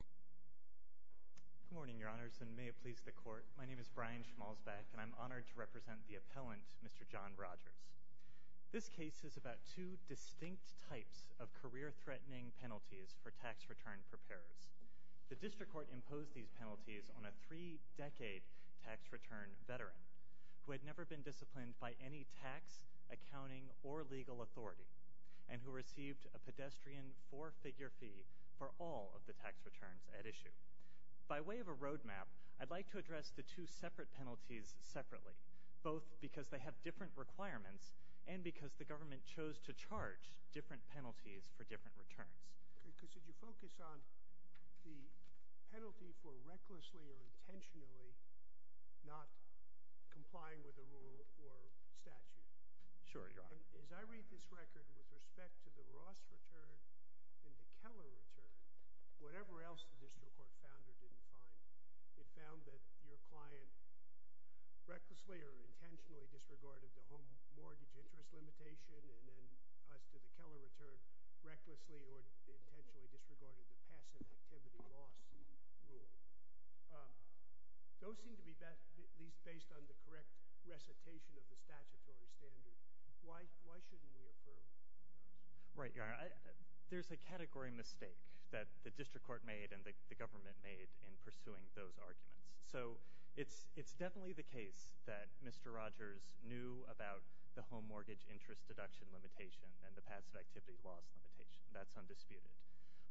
Good morning, Your Honors, and may it please the Court. My name is Brian Schmalzbeck, and I'm honored to represent the appellant, Mr. John Rodgers. This case is about two distinct types of career-threatening penalties for tax return preparers. The District Court imposed these penalties on a three-decade tax return veteran who had never been disciplined by any tax, accounting, or legal authority and who received a pedestrian four-figure fee for all of the tax returns at issue. By way of a roadmap, I'd like to address the two separate penalties separately, both because they have different requirements and because the government chose to charge different penalties for different returns. Could you focus on the penalty for recklessly or intentionally not complying with the rule or statute? Sure, Your Honor. As I read this record with respect to the Ross return and the Keller return, whatever else the District Court found or didn't find, it found that your client recklessly or intentionally disregarded the home mortgage interest limitation and then, as to the Keller return, recklessly or intentionally disregarded the passive activity loss rule. Those seem to be at least based on the correct recitation of the statutory standard. Why shouldn't we affirm them? Right, Your Honor. There's a category mistake that the District Court made and the government made in pursuing those arguments. So it's definitely the case that Mr. Rogers knew about the home mortgage interest deduction limitation and the passive activity loss limitation. That's undisputed.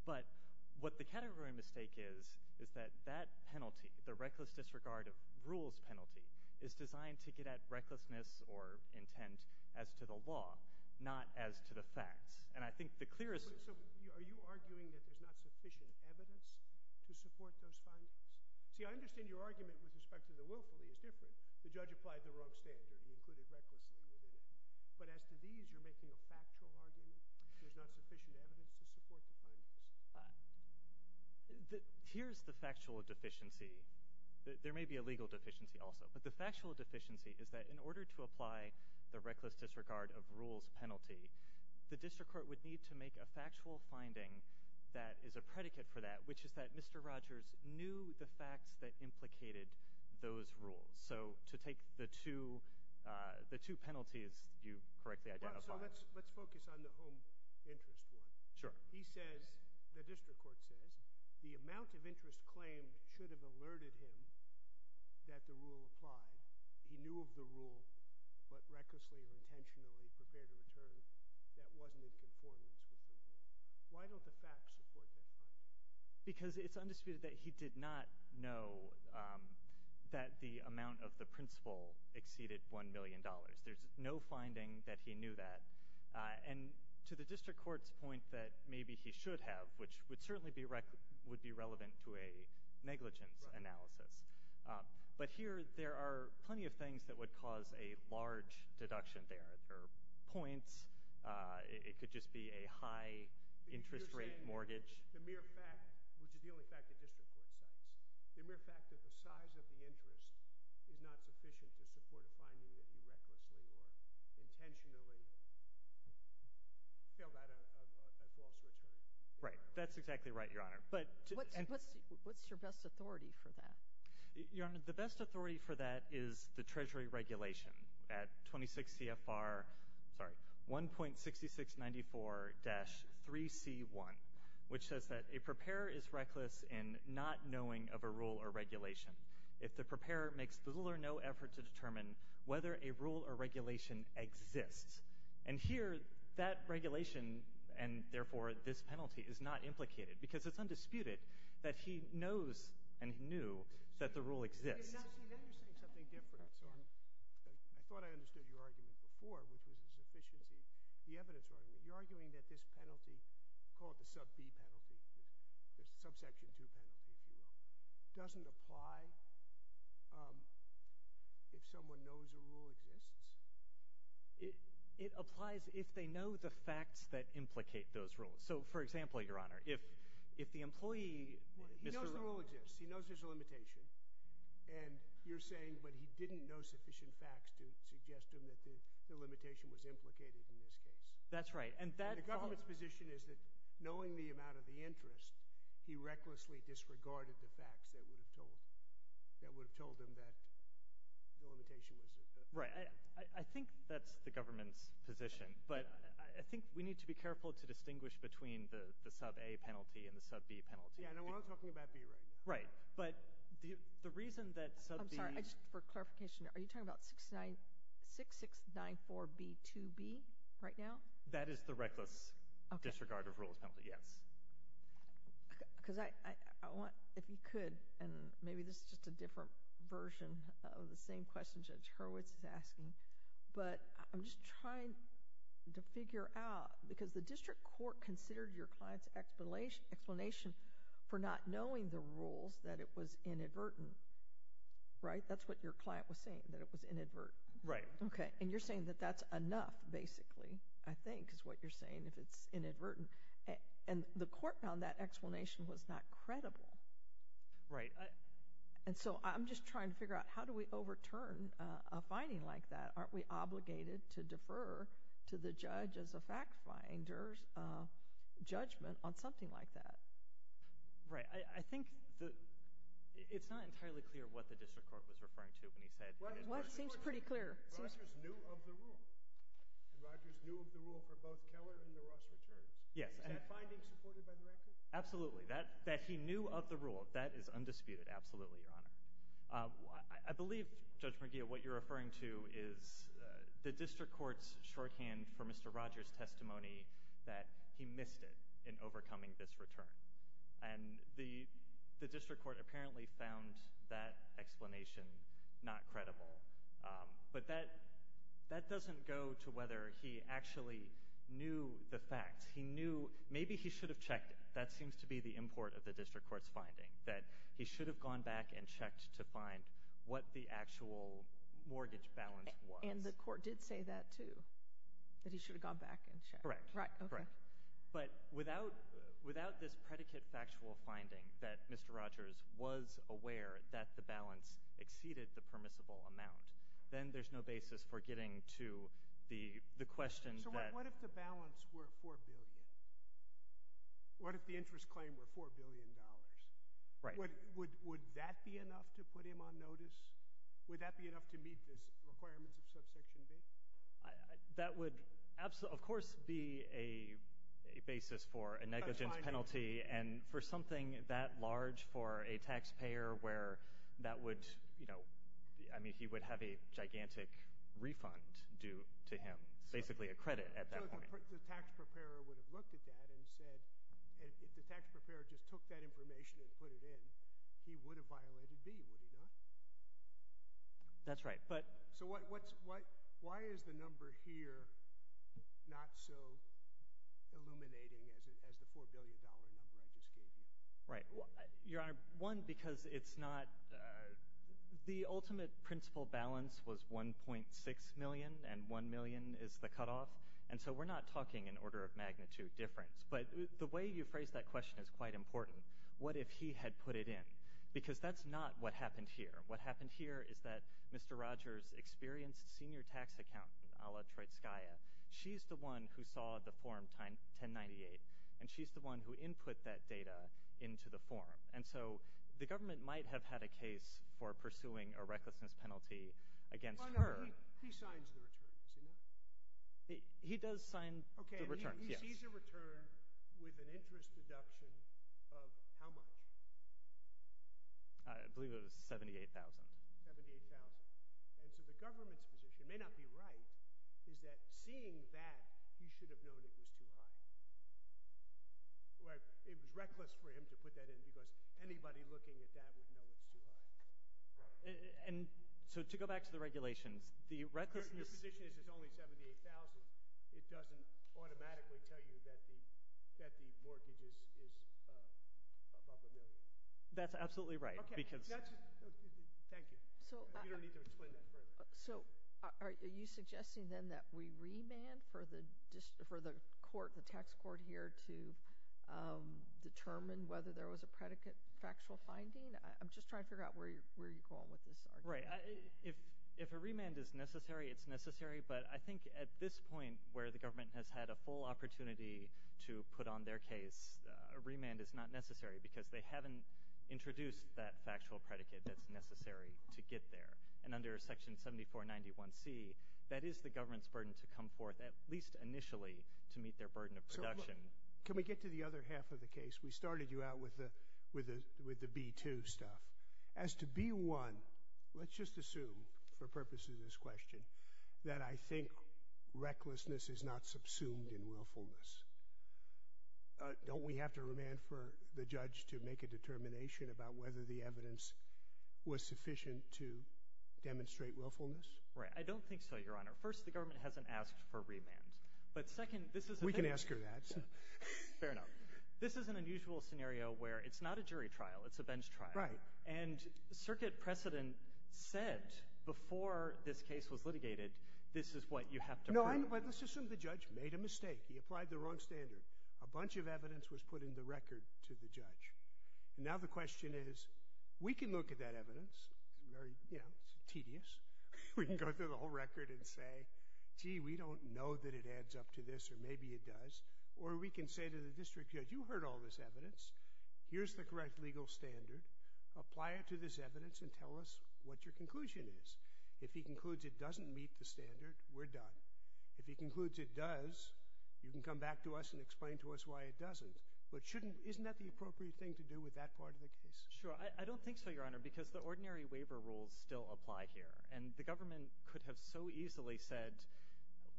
But what the category mistake is is that that penalty, the reckless disregard of rules penalty, is designed to get at recklessness or intent as to the law, not as to the facts. And I think the clearest— So are you arguing that there's not sufficient evidence to support those findings? See, I understand your argument with respect to the willfully is different. The judge applied the wrong standard and included recklessly. But as to these, you're making a factual argument? There's not sufficient evidence to support the findings? Here's the factual deficiency. There may be a legal deficiency also, but the factual deficiency is that in order to apply the reckless disregard of rules penalty, the District Court would need to make a factual finding that is a predicate for that, which is that Mr. Rogers knew the facts that implicated those rules. So to take the two penalties you correctly identified— So let's focus on the home interest one. Sure. He says—the District Court says the amount of interest claimed should have alerted him that the rule applied. He knew of the rule, but recklessly or intentionally prepared a return that wasn't in conformance with the rule. Why don't the facts support that finding? Because it's undisputed that he did not know that the amount of the principal exceeded $1 million. There's no finding that he knew that. And to the District Court's point that maybe he should have, which would certainly be relevant to a negligence analysis, but here there are plenty of things that would cause a large deduction there. There are points. It could just be a high interest rate mortgage. The mere fact—which is the only fact the District Court cites— the mere fact that the size of the interest is not sufficient to support a finding that he recklessly or intentionally failed at a false return. Right. That's exactly right, Your Honor. What's your best authority for that? Your Honor, the best authority for that is the Treasury regulation at 26 CFR 1.6694-3C1, which says that a preparer is reckless in not knowing of a rule or regulation. If the preparer makes little or no effort to determine whether a rule or regulation exists. And here that regulation, and therefore this penalty, is not implicated because it's undisputed that he knows and knew that the rule exists. Now you're saying something different, Your Honor. I thought I understood your argument before, which was the sufficiency—the evidence argument. You're arguing that this penalty called the sub B penalty, the subsection 2 penalty, doesn't apply if someone knows a rule exists? It applies if they know the facts that implicate those rules. So, for example, Your Honor, if the employee— He knows the rule exists. He knows there's a limitation. And you're saying, but he didn't know sufficient facts to suggest to him that the limitation was implicated in this case. That's right. And that— My question is that, knowing the amount of the interest, he recklessly disregarded the facts that would have told him that the limitation was— Right. I think that's the government's position. But I think we need to be careful to distinguish between the sub A penalty and the sub B penalty. Yeah, and I'm not talking about B right now. Right. But the reason that sub B— I'm sorry, just for clarification, are you talking about 6694B2B right now? That is the reckless disregard of rules penalty, yes. Because I want, if you could, and maybe this is just a different version of the same question Judge Hurwitz is asking, but I'm just trying to figure out, because the district court considered your client's explanation for not knowing the rules that it was inadvertent, right? That's what your client was saying, that it was inadvertent. Right. Okay. And you're saying that that's enough, basically, I think, is what you're saying, if it's inadvertent. And the court found that explanation was not credible. Right. And so I'm just trying to figure out, how do we overturn a finding like that? Aren't we obligated to defer to the judge as a fact finder's judgment on something like that? Right. I think it's not entirely clear what the district court was referring to when he said— Well, it seems pretty clear. Rogers knew of the rule. Rogers knew of the rule for both Keller and the Ross returns. Yes. Is that finding supported by the record? Absolutely. That he knew of the rule, that is undisputed. Absolutely, Your Honor. I believe, Judge McGill, what you're referring to is the district court's shorthand for Mr. Rogers' testimony that he missed it in overcoming this return. And the district court apparently found that explanation not credible. But that doesn't go to whether he actually knew the facts. He knew—maybe he should have checked it. That seems to be the import of the district court's finding, that he should have gone back and checked to find what the actual mortgage balance was. And the court did say that, too, that he should have gone back and checked. Correct. Right. Okay. But without this predicate factual finding that Mr. Rogers was aware that the balance exceeded the permissible amount, then there's no basis for getting to the question that— So what if the balance were $4 billion? What if the interest claim were $4 billion? Right. Would that be enough to put him on notice? Would that be enough to meet the requirements of Subsection B? That would, of course, be a basis for a negligence penalty and for something that large for a taxpayer where that would— I mean, he would have a gigantic refund due to him, basically a credit at that point. The tax preparer would have looked at that and said— if the tax preparer just took that information and put it in, he would have violated B, would he not? That's right. So why is the number here not so illuminating as the $4 billion number I just gave you? Right. Your Honor, one, because it's not— the ultimate principal balance was $1.6 million, and $1 million is the cutoff. And so we're not talking an order of magnitude difference. But the way you phrased that question is quite important. What if he had put it in? Because that's not what happened here. What happened here is that Mr. Rogers' experienced senior tax accountant, a la Troitskaya, she's the one who saw the Form 1098, and she's the one who input that data into the form. And so the government might have had a case for pursuing a recklessness penalty against her. Your Honor, he signs the return. Does he not? He does sign the return, yes. Okay, and he sees a return with an interest deduction of how much? I believe it was $78,000. $78,000. And so the government's position may not be right, is that seeing that, he should have known it was too high. It was reckless for him to put that in because anybody looking at that would know it's too high. And so to go back to the regulations, the recklessness— it doesn't automatically tell you that the mortgage is above a million. That's absolutely right because— Thank you. You don't need to explain that further. So are you suggesting then that we remand for the court, the tax court here, to determine whether there was a predicate factual finding? I'm just trying to figure out where you're going with this argument. Right. If a remand is necessary, it's necessary, but I think at this point where the government has had a full opportunity to put on their case, a remand is not necessary because they haven't introduced that factual predicate that's necessary to get there. And under Section 7491C, that is the government's burden to come forth, at least initially, to meet their burden of production. Can we get to the other half of the case? We started you out with the B-2 stuff. As to B-1, let's just assume for purposes of this question that I think recklessness is not subsumed in willfulness. Don't we have to remand for the judge to make a determination about whether the evidence was sufficient to demonstrate willfulness? Right. I don't think so, Your Honor. First, the government hasn't asked for remand. But second, this is— We can ask her that. Fair enough. This is an unusual scenario where it's not a jury trial. It's a bench trial. Right. And Circuit Precedent said before this case was litigated, this is what you have to prove. Let's assume the judge made a mistake. He applied the wrong standard. A bunch of evidence was put in the record to the judge. Now the question is, we can look at that evidence. It's tedious. We can go through the whole record and say, gee, we don't know that it adds up to this, or maybe it does. Or we can say to the district judge, you heard all this evidence. Here's the correct legal standard. Apply it to this evidence and tell us what your conclusion is. If he concludes it doesn't meet the standard, we're done. If he concludes it does, you can come back to us and explain to us why it doesn't. But shouldn't—isn't that the appropriate thing to do with that part of the case? Sure. I don't think so, Your Honor, because the ordinary waiver rules still apply here. And the government could have so easily said,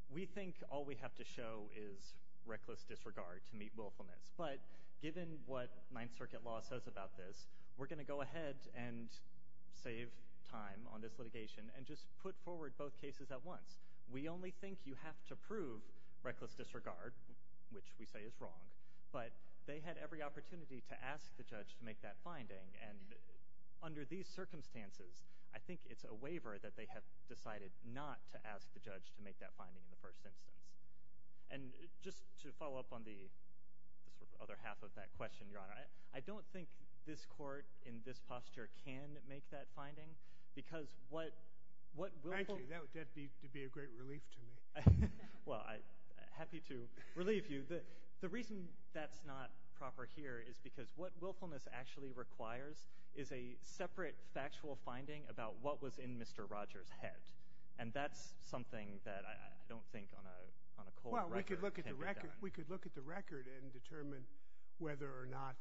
we think all we have to show is reckless disregard to meet willfulness. But given what Ninth Circuit law says about this, we're going to go ahead and save time on this litigation and just put forward both cases at once. We only think you have to prove reckless disregard, which we say is wrong. But they had every opportunity to ask the judge to make that finding. And under these circumstances, I think it's a waiver that they have decided not to ask the judge to make that finding in the first instance. And just to follow up on the other half of that question, Your Honor, I don't think this court in this posture can make that finding, because what willful— Thank you. That would be a great relief to me. Well, happy to relieve you. The reason that's not proper here is because what willfulness actually requires is a separate factual finding about what was in Mr. Rogers' head. And that's something that I don't think on a cold record can be done. Well, we could look at the record and determine whether or not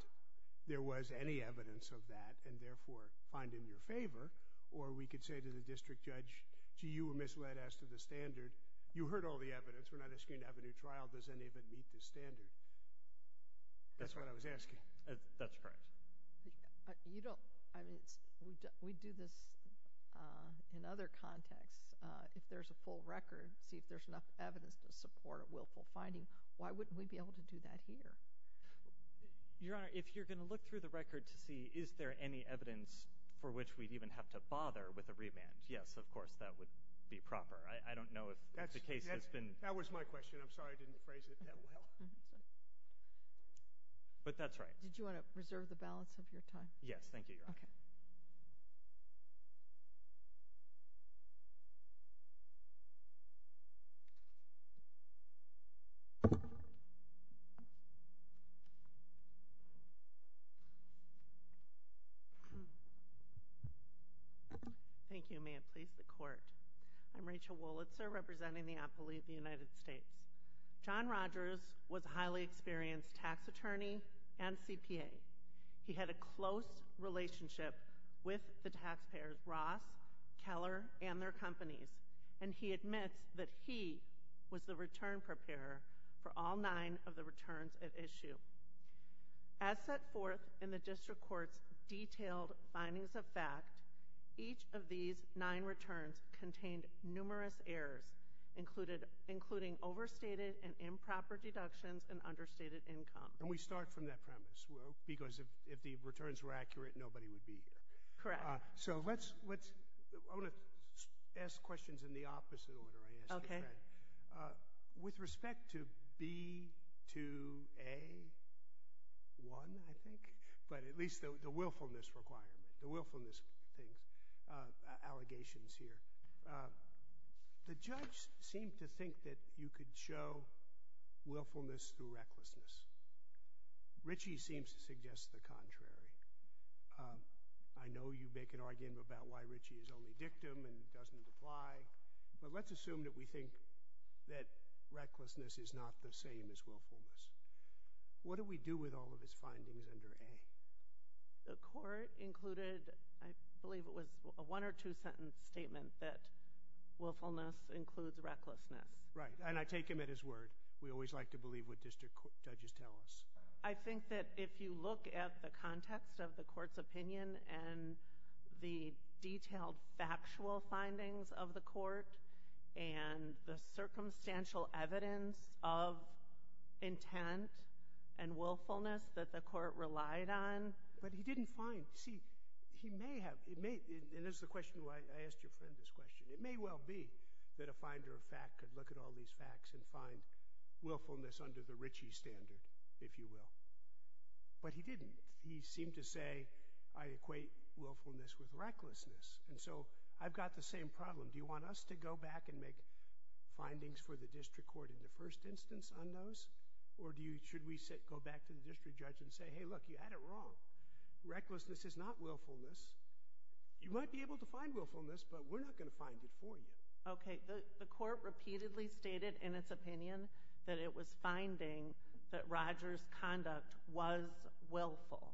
there was any evidence of that and therefore find in your favor. Or we could say to the district judge, gee, you were misled as to the standard. You heard all the evidence. We're not asking you to have a new trial. Does any of it meet the standard? That's what I was asking. That's correct. You don't—I mean, we do this in other contexts. If there's a full record, see if there's enough evidence to support a willful finding. Why wouldn't we be able to do that here? Your Honor, if you're going to look through the record to see is there any evidence for which we'd even have to bother with a remand, yes, of course, that would be proper. I don't know if the case has been— That was my question. I'm sorry I didn't phrase it that well. But that's right. Did you want to reserve the balance of your time? Yes. Thank you, Your Honor. Okay. Thank you. May it please the Court. I'm Rachel Wolitzer, representing the Appellee of the United States. John Rogers was a highly experienced tax attorney and CPA. He had a close relationship with the taxpayers, Ross, Keller, and their companies, and he admits that he was the return preparer for all nine of the returns at issue. As set forth in the district court's detailed findings of fact, each of these nine returns contained numerous errors, including overstated and improper deductions and understated income. And we start from that premise because if the returns were accurate, nobody would be here. Correct. So let's—I'm going to ask questions in the opposite order I asked you, Fred. Okay. With respect to B2A1, I think, but at least the willfulness requirement, the willfulness allegations here, the judge seemed to think that you could show willfulness through recklessness. Ritchie seems to suggest the contrary. I know you make an argument about why Ritchie is only dictum and doesn't apply, but let's assume that we think that recklessness is not the same as willfulness. What do we do with all of his findings under A? The court included, I believe it was a one or two-sentence statement that willfulness includes recklessness. Right. And I take him at his word. We always like to believe what district judges tell us. I think that if you look at the context of the court's opinion and the detailed factual findings of the court and the circumstantial evidence of intent and willfulness that the court relied on— But he didn't find—see, he may have—and this is the question why I asked your friend this question. It may well be that a finder of fact could look at all these facts and find willfulness under the Ritchie standard, if you will. But he didn't. He seemed to say, I equate willfulness with recklessness. And so I've got the same problem. Do you want us to go back and make findings for the district court in the first instance on those? Or should we go back to the district judge and say, hey, look, you had it wrong. Recklessness is not willfulness. You might be able to find willfulness, but we're not going to find it for you. Okay. The court repeatedly stated in its opinion that it was finding that Roger's conduct was willful.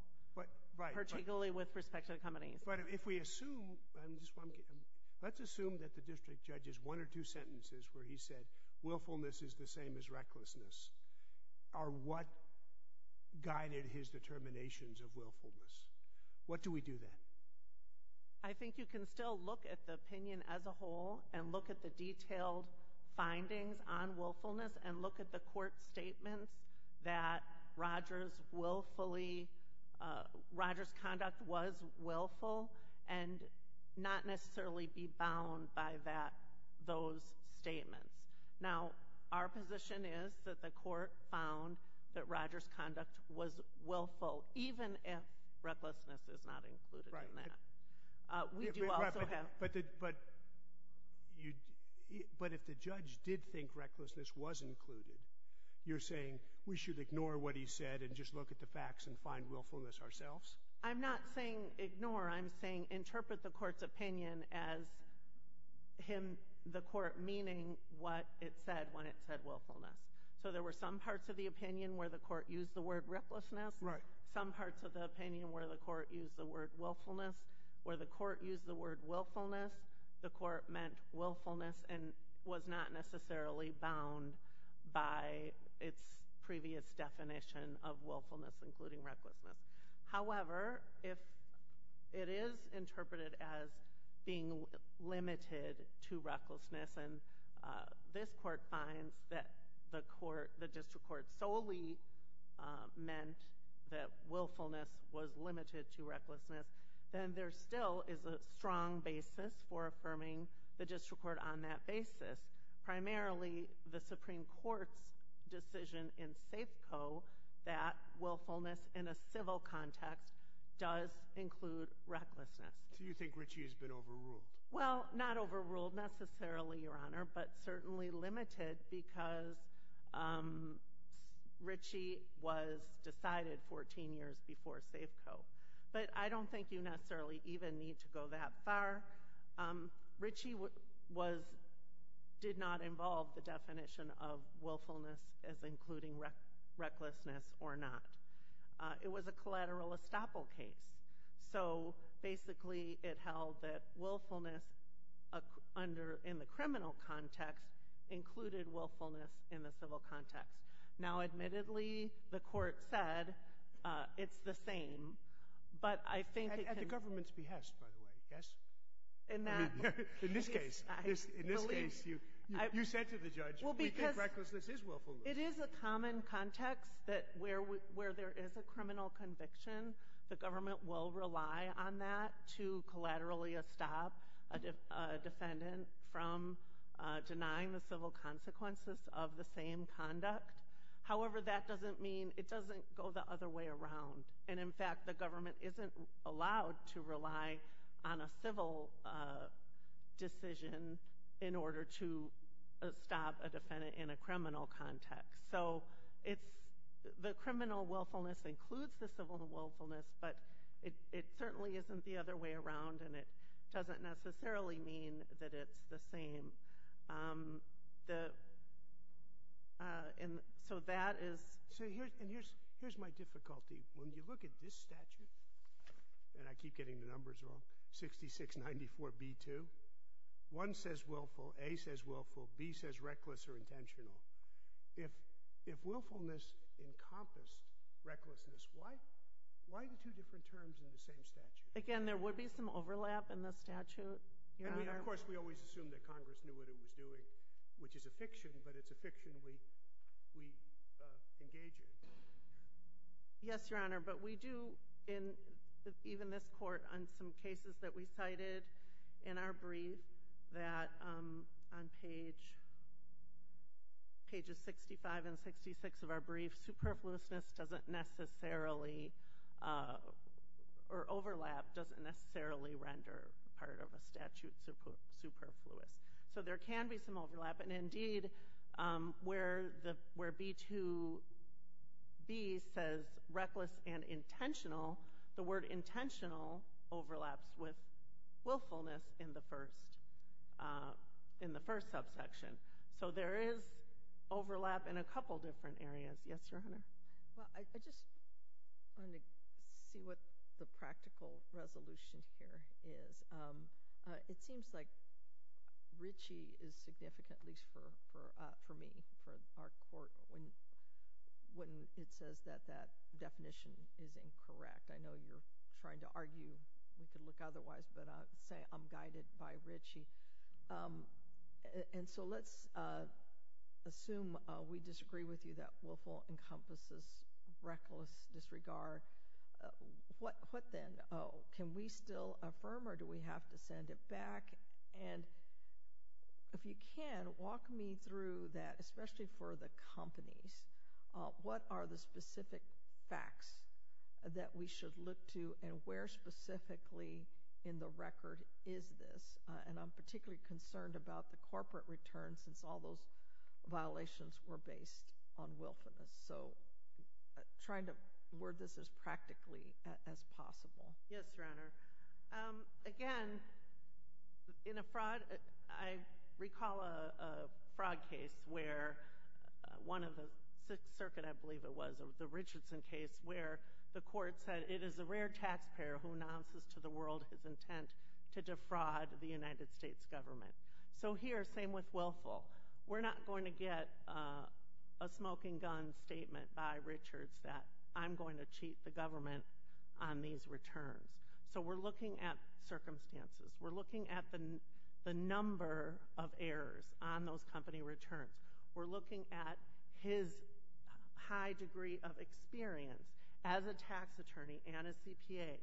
Right. Particularly with respect to the company. But if we assume—let's assume that the district judge's one or two sentences where he said willfulness is the same as recklessness are what guided his determinations of willfulness. What do we do then? I think you can still look at the opinion as a whole and look at the detailed findings on willfulness and look at the court statements that Roger's conduct was willful and not necessarily be bound by those statements. Now, our position is that the court found that Roger's conduct was willful, even if recklessness is not included in that. But if the judge did think recklessness was included, you're saying we should ignore what he said and just look at the facts and find willfulness ourselves? I'm not saying ignore. I'm saying interpret the court's opinion as the court meaning what it said when it said willfulness. So there were some parts of the opinion where the court used the word recklessness. Right. There were some parts of the opinion where the court used the word willfulness. Where the court used the word willfulness, the court meant willfulness and was not necessarily bound by its previous definition of willfulness, including recklessness. However, if it is interpreted as being limited to recklessness and this court finds that the district court solely meant that willfulness was limited to recklessness, then there still is a strong basis for affirming the district court on that basis. Primarily, the Supreme Court's decision in Safeco that willfulness in a civil context does include recklessness. So you think Ritchie has been overruled? Well, not overruled necessarily, Your Honor, but certainly limited because Ritchie was decided 14 years before Safeco. But I don't think you necessarily even need to go that far. Ritchie did not involve the definition of willfulness as including recklessness or not. It was a collateral estoppel case. So basically, it held that willfulness in the criminal context included willfulness in the civil context. Now, admittedly, the court said it's the same. At the government's behest, by the way. In this case, you said to the judge, we think recklessness is willfulness. It is a common context that where there is a criminal conviction, the government will rely on that to collaterally estop a defendant from denying the civil consequences of the same conduct. However, that doesn't mean it doesn't go the other way around. And, in fact, the government isn't allowed to rely on a civil decision in order to estop a defendant in a criminal context. So the criminal willfulness includes the civil willfulness, but it certainly isn't the other way around, and it doesn't necessarily mean that it's the same. So that is... So here's my difficulty. When you look at this statute, and I keep getting the numbers wrong, 6694B2, 1 says willful, A says willful, B says reckless or intentional. If willfulness encompassed recklessness, why the two different terms in the same statute? Again, there would be some overlap in the statute. And, of course, we always assume that Congress knew what it was doing, which is a fiction, but it's a fiction we engage in. Yes, Your Honor, but we do in even this court on some cases that we cited in our brief that on pages 65 and 66 of our brief, superfluousness doesn't necessarily, or overlap doesn't necessarily render part of a statute superfluous. So there can be some overlap. And, indeed, where B2B says reckless and intentional, the word intentional overlaps with willfulness in the first subsection. So there is overlap in a couple different areas. Yes, Your Honor. Well, I just wanted to see what the practical resolution here is. It seems like Ritchie is significant, at least for me, for our court, when it says that that definition is incorrect. I know you're trying to argue. We could look otherwise, but say I'm guided by Ritchie. And so let's assume we disagree with you that willful encompasses reckless disregard. What then? Can we still affirm or do we have to send it back? And if you can, walk me through that, especially for the companies. What are the specific facts that we should look to and where specifically in the record is this? And I'm particularly concerned about the corporate return since all those violations were based on willfulness. So trying to word this as practically as possible. Yes, Your Honor. Again, in a fraud, I recall a fraud case where one of the six circuit, I believe it was, the Richardson case where the court said it is a rare taxpayer who announces to the world his intent to defraud the United States government. So here, same with willful. We're not going to get a smoking gun statement by Richards that I'm going to cheat the government on these returns. So we're looking at circumstances. We're looking at the number of errors on those company returns. We're looking at his high degree of experience as a tax attorney and a CPA.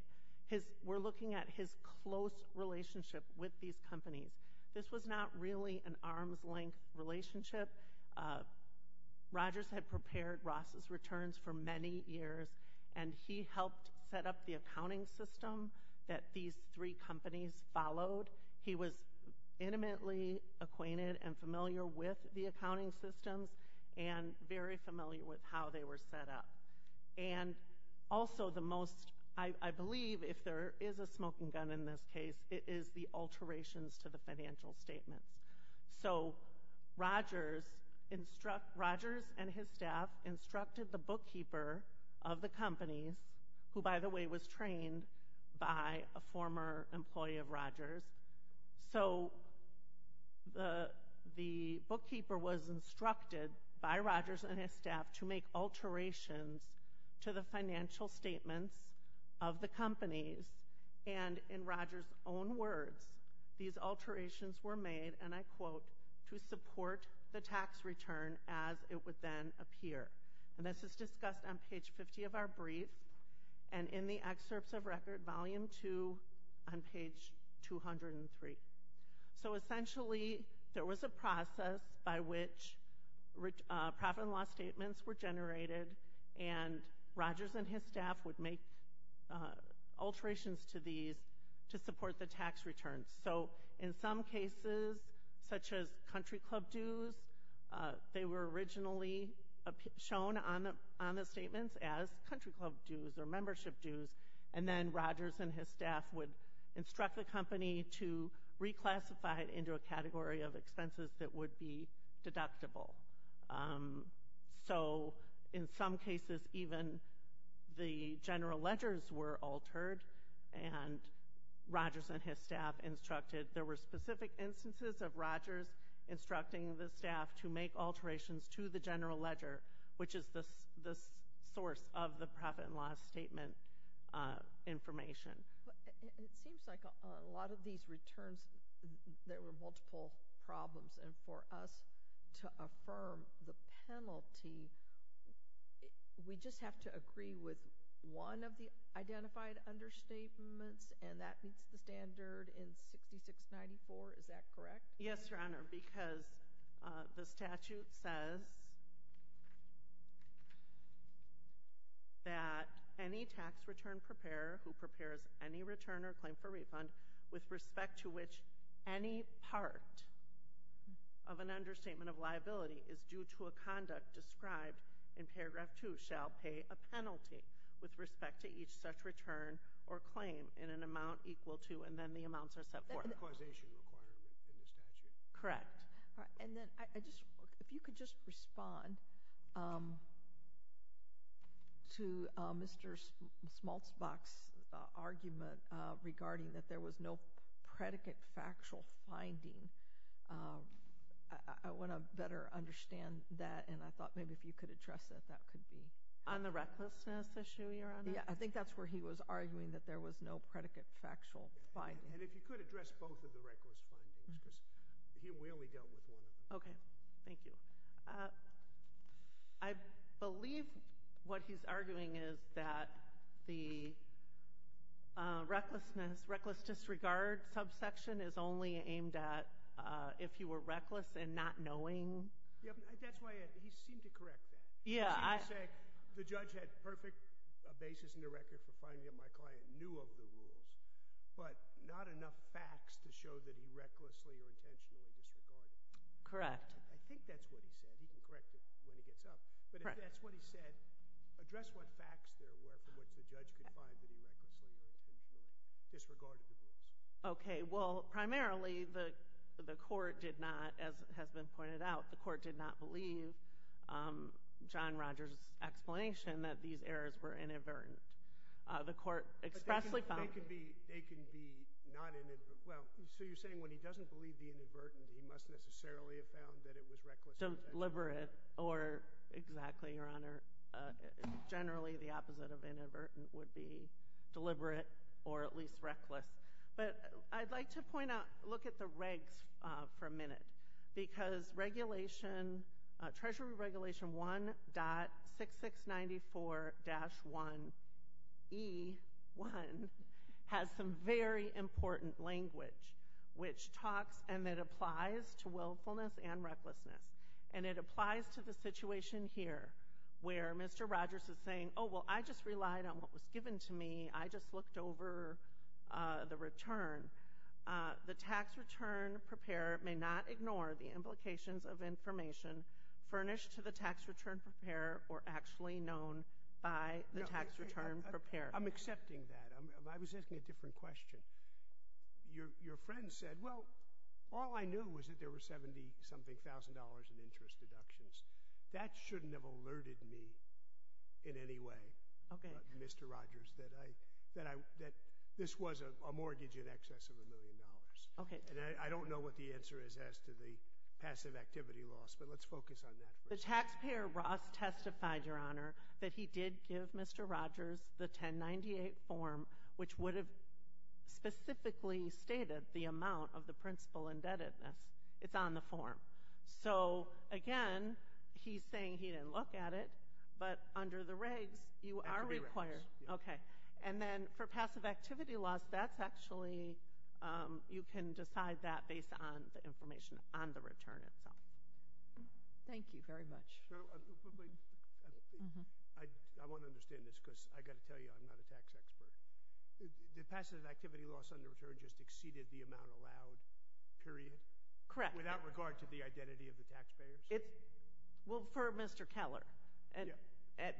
We're looking at his close relationship with these companies. This was not really an arm's length relationship. Rogers had prepared Ross's returns for many years, and he helped set up the accounting system that these three companies followed. He was intimately acquainted and familiar with the accounting systems and very familiar with how they were set up. And also the most, I believe if there is a smoking gun in this case, it is the alterations to the financial statements. So Rogers and his staff instructed the bookkeeper of the companies, who by the way was trained by a former employee of Rogers. So the bookkeeper was instructed by Rogers and his staff to make alterations to the financial statements of the companies. And in Rogers' own words, these alterations were made, and I quote, to support the tax return as it would then appear. And this is discussed on page 50 of our brief and in the excerpts of record volume two on page 203. So essentially there was a process by which profit and loss statements were generated and Rogers and his staff would make alterations to these to support the tax returns. So in some cases, such as country club dues, they were originally shown on the statements as country club dues or membership dues, and then Rogers and his staff would instruct the company to reclassify it into a category of expenses that would be deductible. So in some cases, even the general ledgers were altered and Rogers and his staff instructed. There were specific instances of Rogers instructing the staff to make alterations to the general ledger, which is the source of the profit and loss statement information. It seems like a lot of these returns, there were multiple problems. And for us to affirm the penalty, we just have to agree with one of the identified understatements, and that meets the standard in 6694, is that correct? Yes, Your Honor, because the statute says that any tax return preparer who prepares any return or claim for refund, with respect to which any part of an understatement of liability is due to a conduct described in paragraph two, shall pay a penalty with respect to each such return or claim in an amount equal to, and then the amounts are set forth. That's the causation requirement in the statute. Correct. And then if you could just respond to Mr. Smaltzbach's argument regarding that there was no predicate factual finding. I want to better understand that, and I thought maybe if you could address that, that could be. On the recklessness issue, Your Honor? Yeah, I think that's where he was arguing that there was no predicate factual finding. And if you could address both of the reckless findings, because here we only dealt with one of them. Okay. Thank you. I believe what he's arguing is that the recklessness, reckless disregard subsection is only aimed at if you were reckless and not knowing. That's why he seemed to correct that. He seemed to say the judge had perfect basis in the record for finding that my client knew of the rules, but not enough facts to show that he recklessly or intentionally disregarded them. Correct. I think that's what he said. He can correct it when he gets up. But if that's what he said, address what facts there were from which the judge could find that he recklessly or intentionally disregarded the rules. Okay. Well, primarily the court did not, as has been pointed out, the court did not believe John Rogers' explanation that these errors were inadvertent. The court expressly found them. They can be non-inadvertent. Well, so you're saying when he doesn't believe the inadvertent, he must necessarily have found that it was reckless. Deliberate, or exactly, Your Honor. Generally, the opposite of inadvertent would be deliberate or at least reckless. But I'd like to point out, look at the regs for a minute, because regulation, Treasury Regulation 1.6694-1E1, has some very important language, which talks and it applies to willfulness and recklessness. And it applies to the situation here, where Mr. Rogers is saying, oh, well, I just relied on what was given to me. I just looked over the return. The tax return preparer may not ignore the implications of information furnished to the tax return preparer or actually known by the tax return preparer. I'm accepting that. I was asking a different question. Your friend said, well, all I knew was that there were 70-something thousand dollars in interest deductions. That shouldn't have alerted me in any way, Mr. Rogers, that this was a mortgage in excess of a million dollars. And I don't know what the answer is as to the passive activity loss, but let's focus on that first. The taxpayer, Ross, testified, Your Honor, that he did give Mr. Rogers the 1098 form, which would have specifically stated the amount of the principal indebtedness. It's on the form. So, again, he's saying he didn't look at it, but under the regs, you are required. Okay. And then for passive activity loss, that's actually, you can decide that based on the information on the return itself. Thank you very much. I want to understand this, because I've got to tell you I'm not a tax expert. The passive activity loss on the return just exceeded the amount allowed, period? Correct. Without regard to the identity of the taxpayers? Well, for Mr. Keller.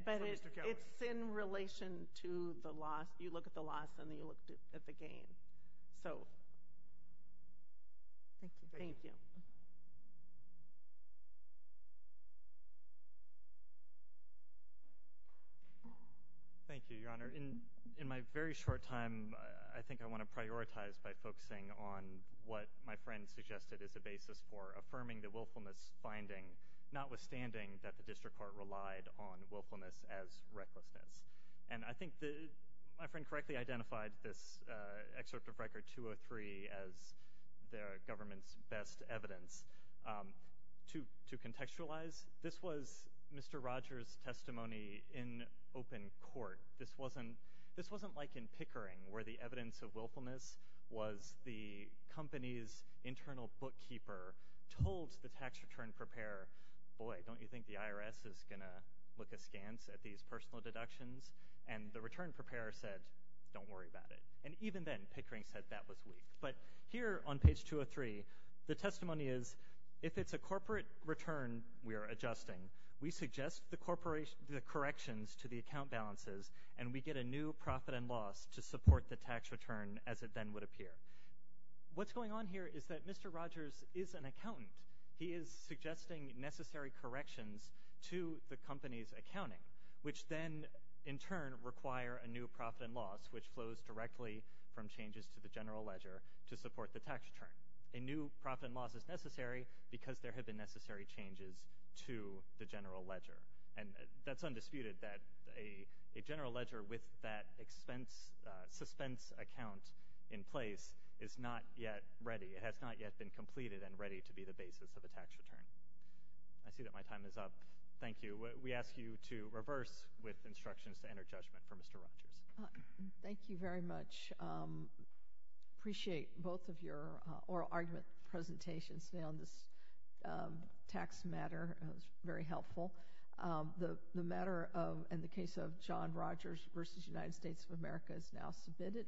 But it's in relation to the loss. You look at the loss, and then you look at the gain. So, thank you. Thank you. Thank you, Your Honor. In my very short time, I think I want to prioritize by focusing on what my friend suggested is a basis for affirming the willfulness finding, notwithstanding that the district court relied on willfulness as recklessness. And I think my friend correctly identified this excerpt of Record 203 as the government's best evidence. To contextualize, this was Mr. Rogers' testimony in open court. This wasn't like in Pickering, where the evidence of willfulness was the company's internal bookkeeper told the tax return preparer, boy, don't you think the IRS is going to look askance at these personal deductions? And the return preparer said, don't worry about it. And even then, Pickering said that was weak. But here on page 203, the testimony is, if it's a corporate return we are adjusting, we suggest the corrections to the account balances, and we get a new profit and loss to support the tax return as it then would appear. What's going on here is that Mr. Rogers is an accountant. He is suggesting necessary corrections to the company's accounting, which then, in turn, require a new profit and loss, which flows directly from changes to the general ledger to support the tax return. A new profit and loss is necessary because there have been necessary changes to the general ledger. And that's undisputed, that a general ledger with that suspense account in place is not yet ready. It has not yet been completed and ready to be the basis of a tax return. I see that my time is up. Thank you. We ask you to reverse with instructions to enter judgment for Mr. Rogers. Thank you very much. I appreciate both of your oral argument presentations on this tax matter. It was very helpful. The matter in the case of John Rogers v. United States of America is now submitted.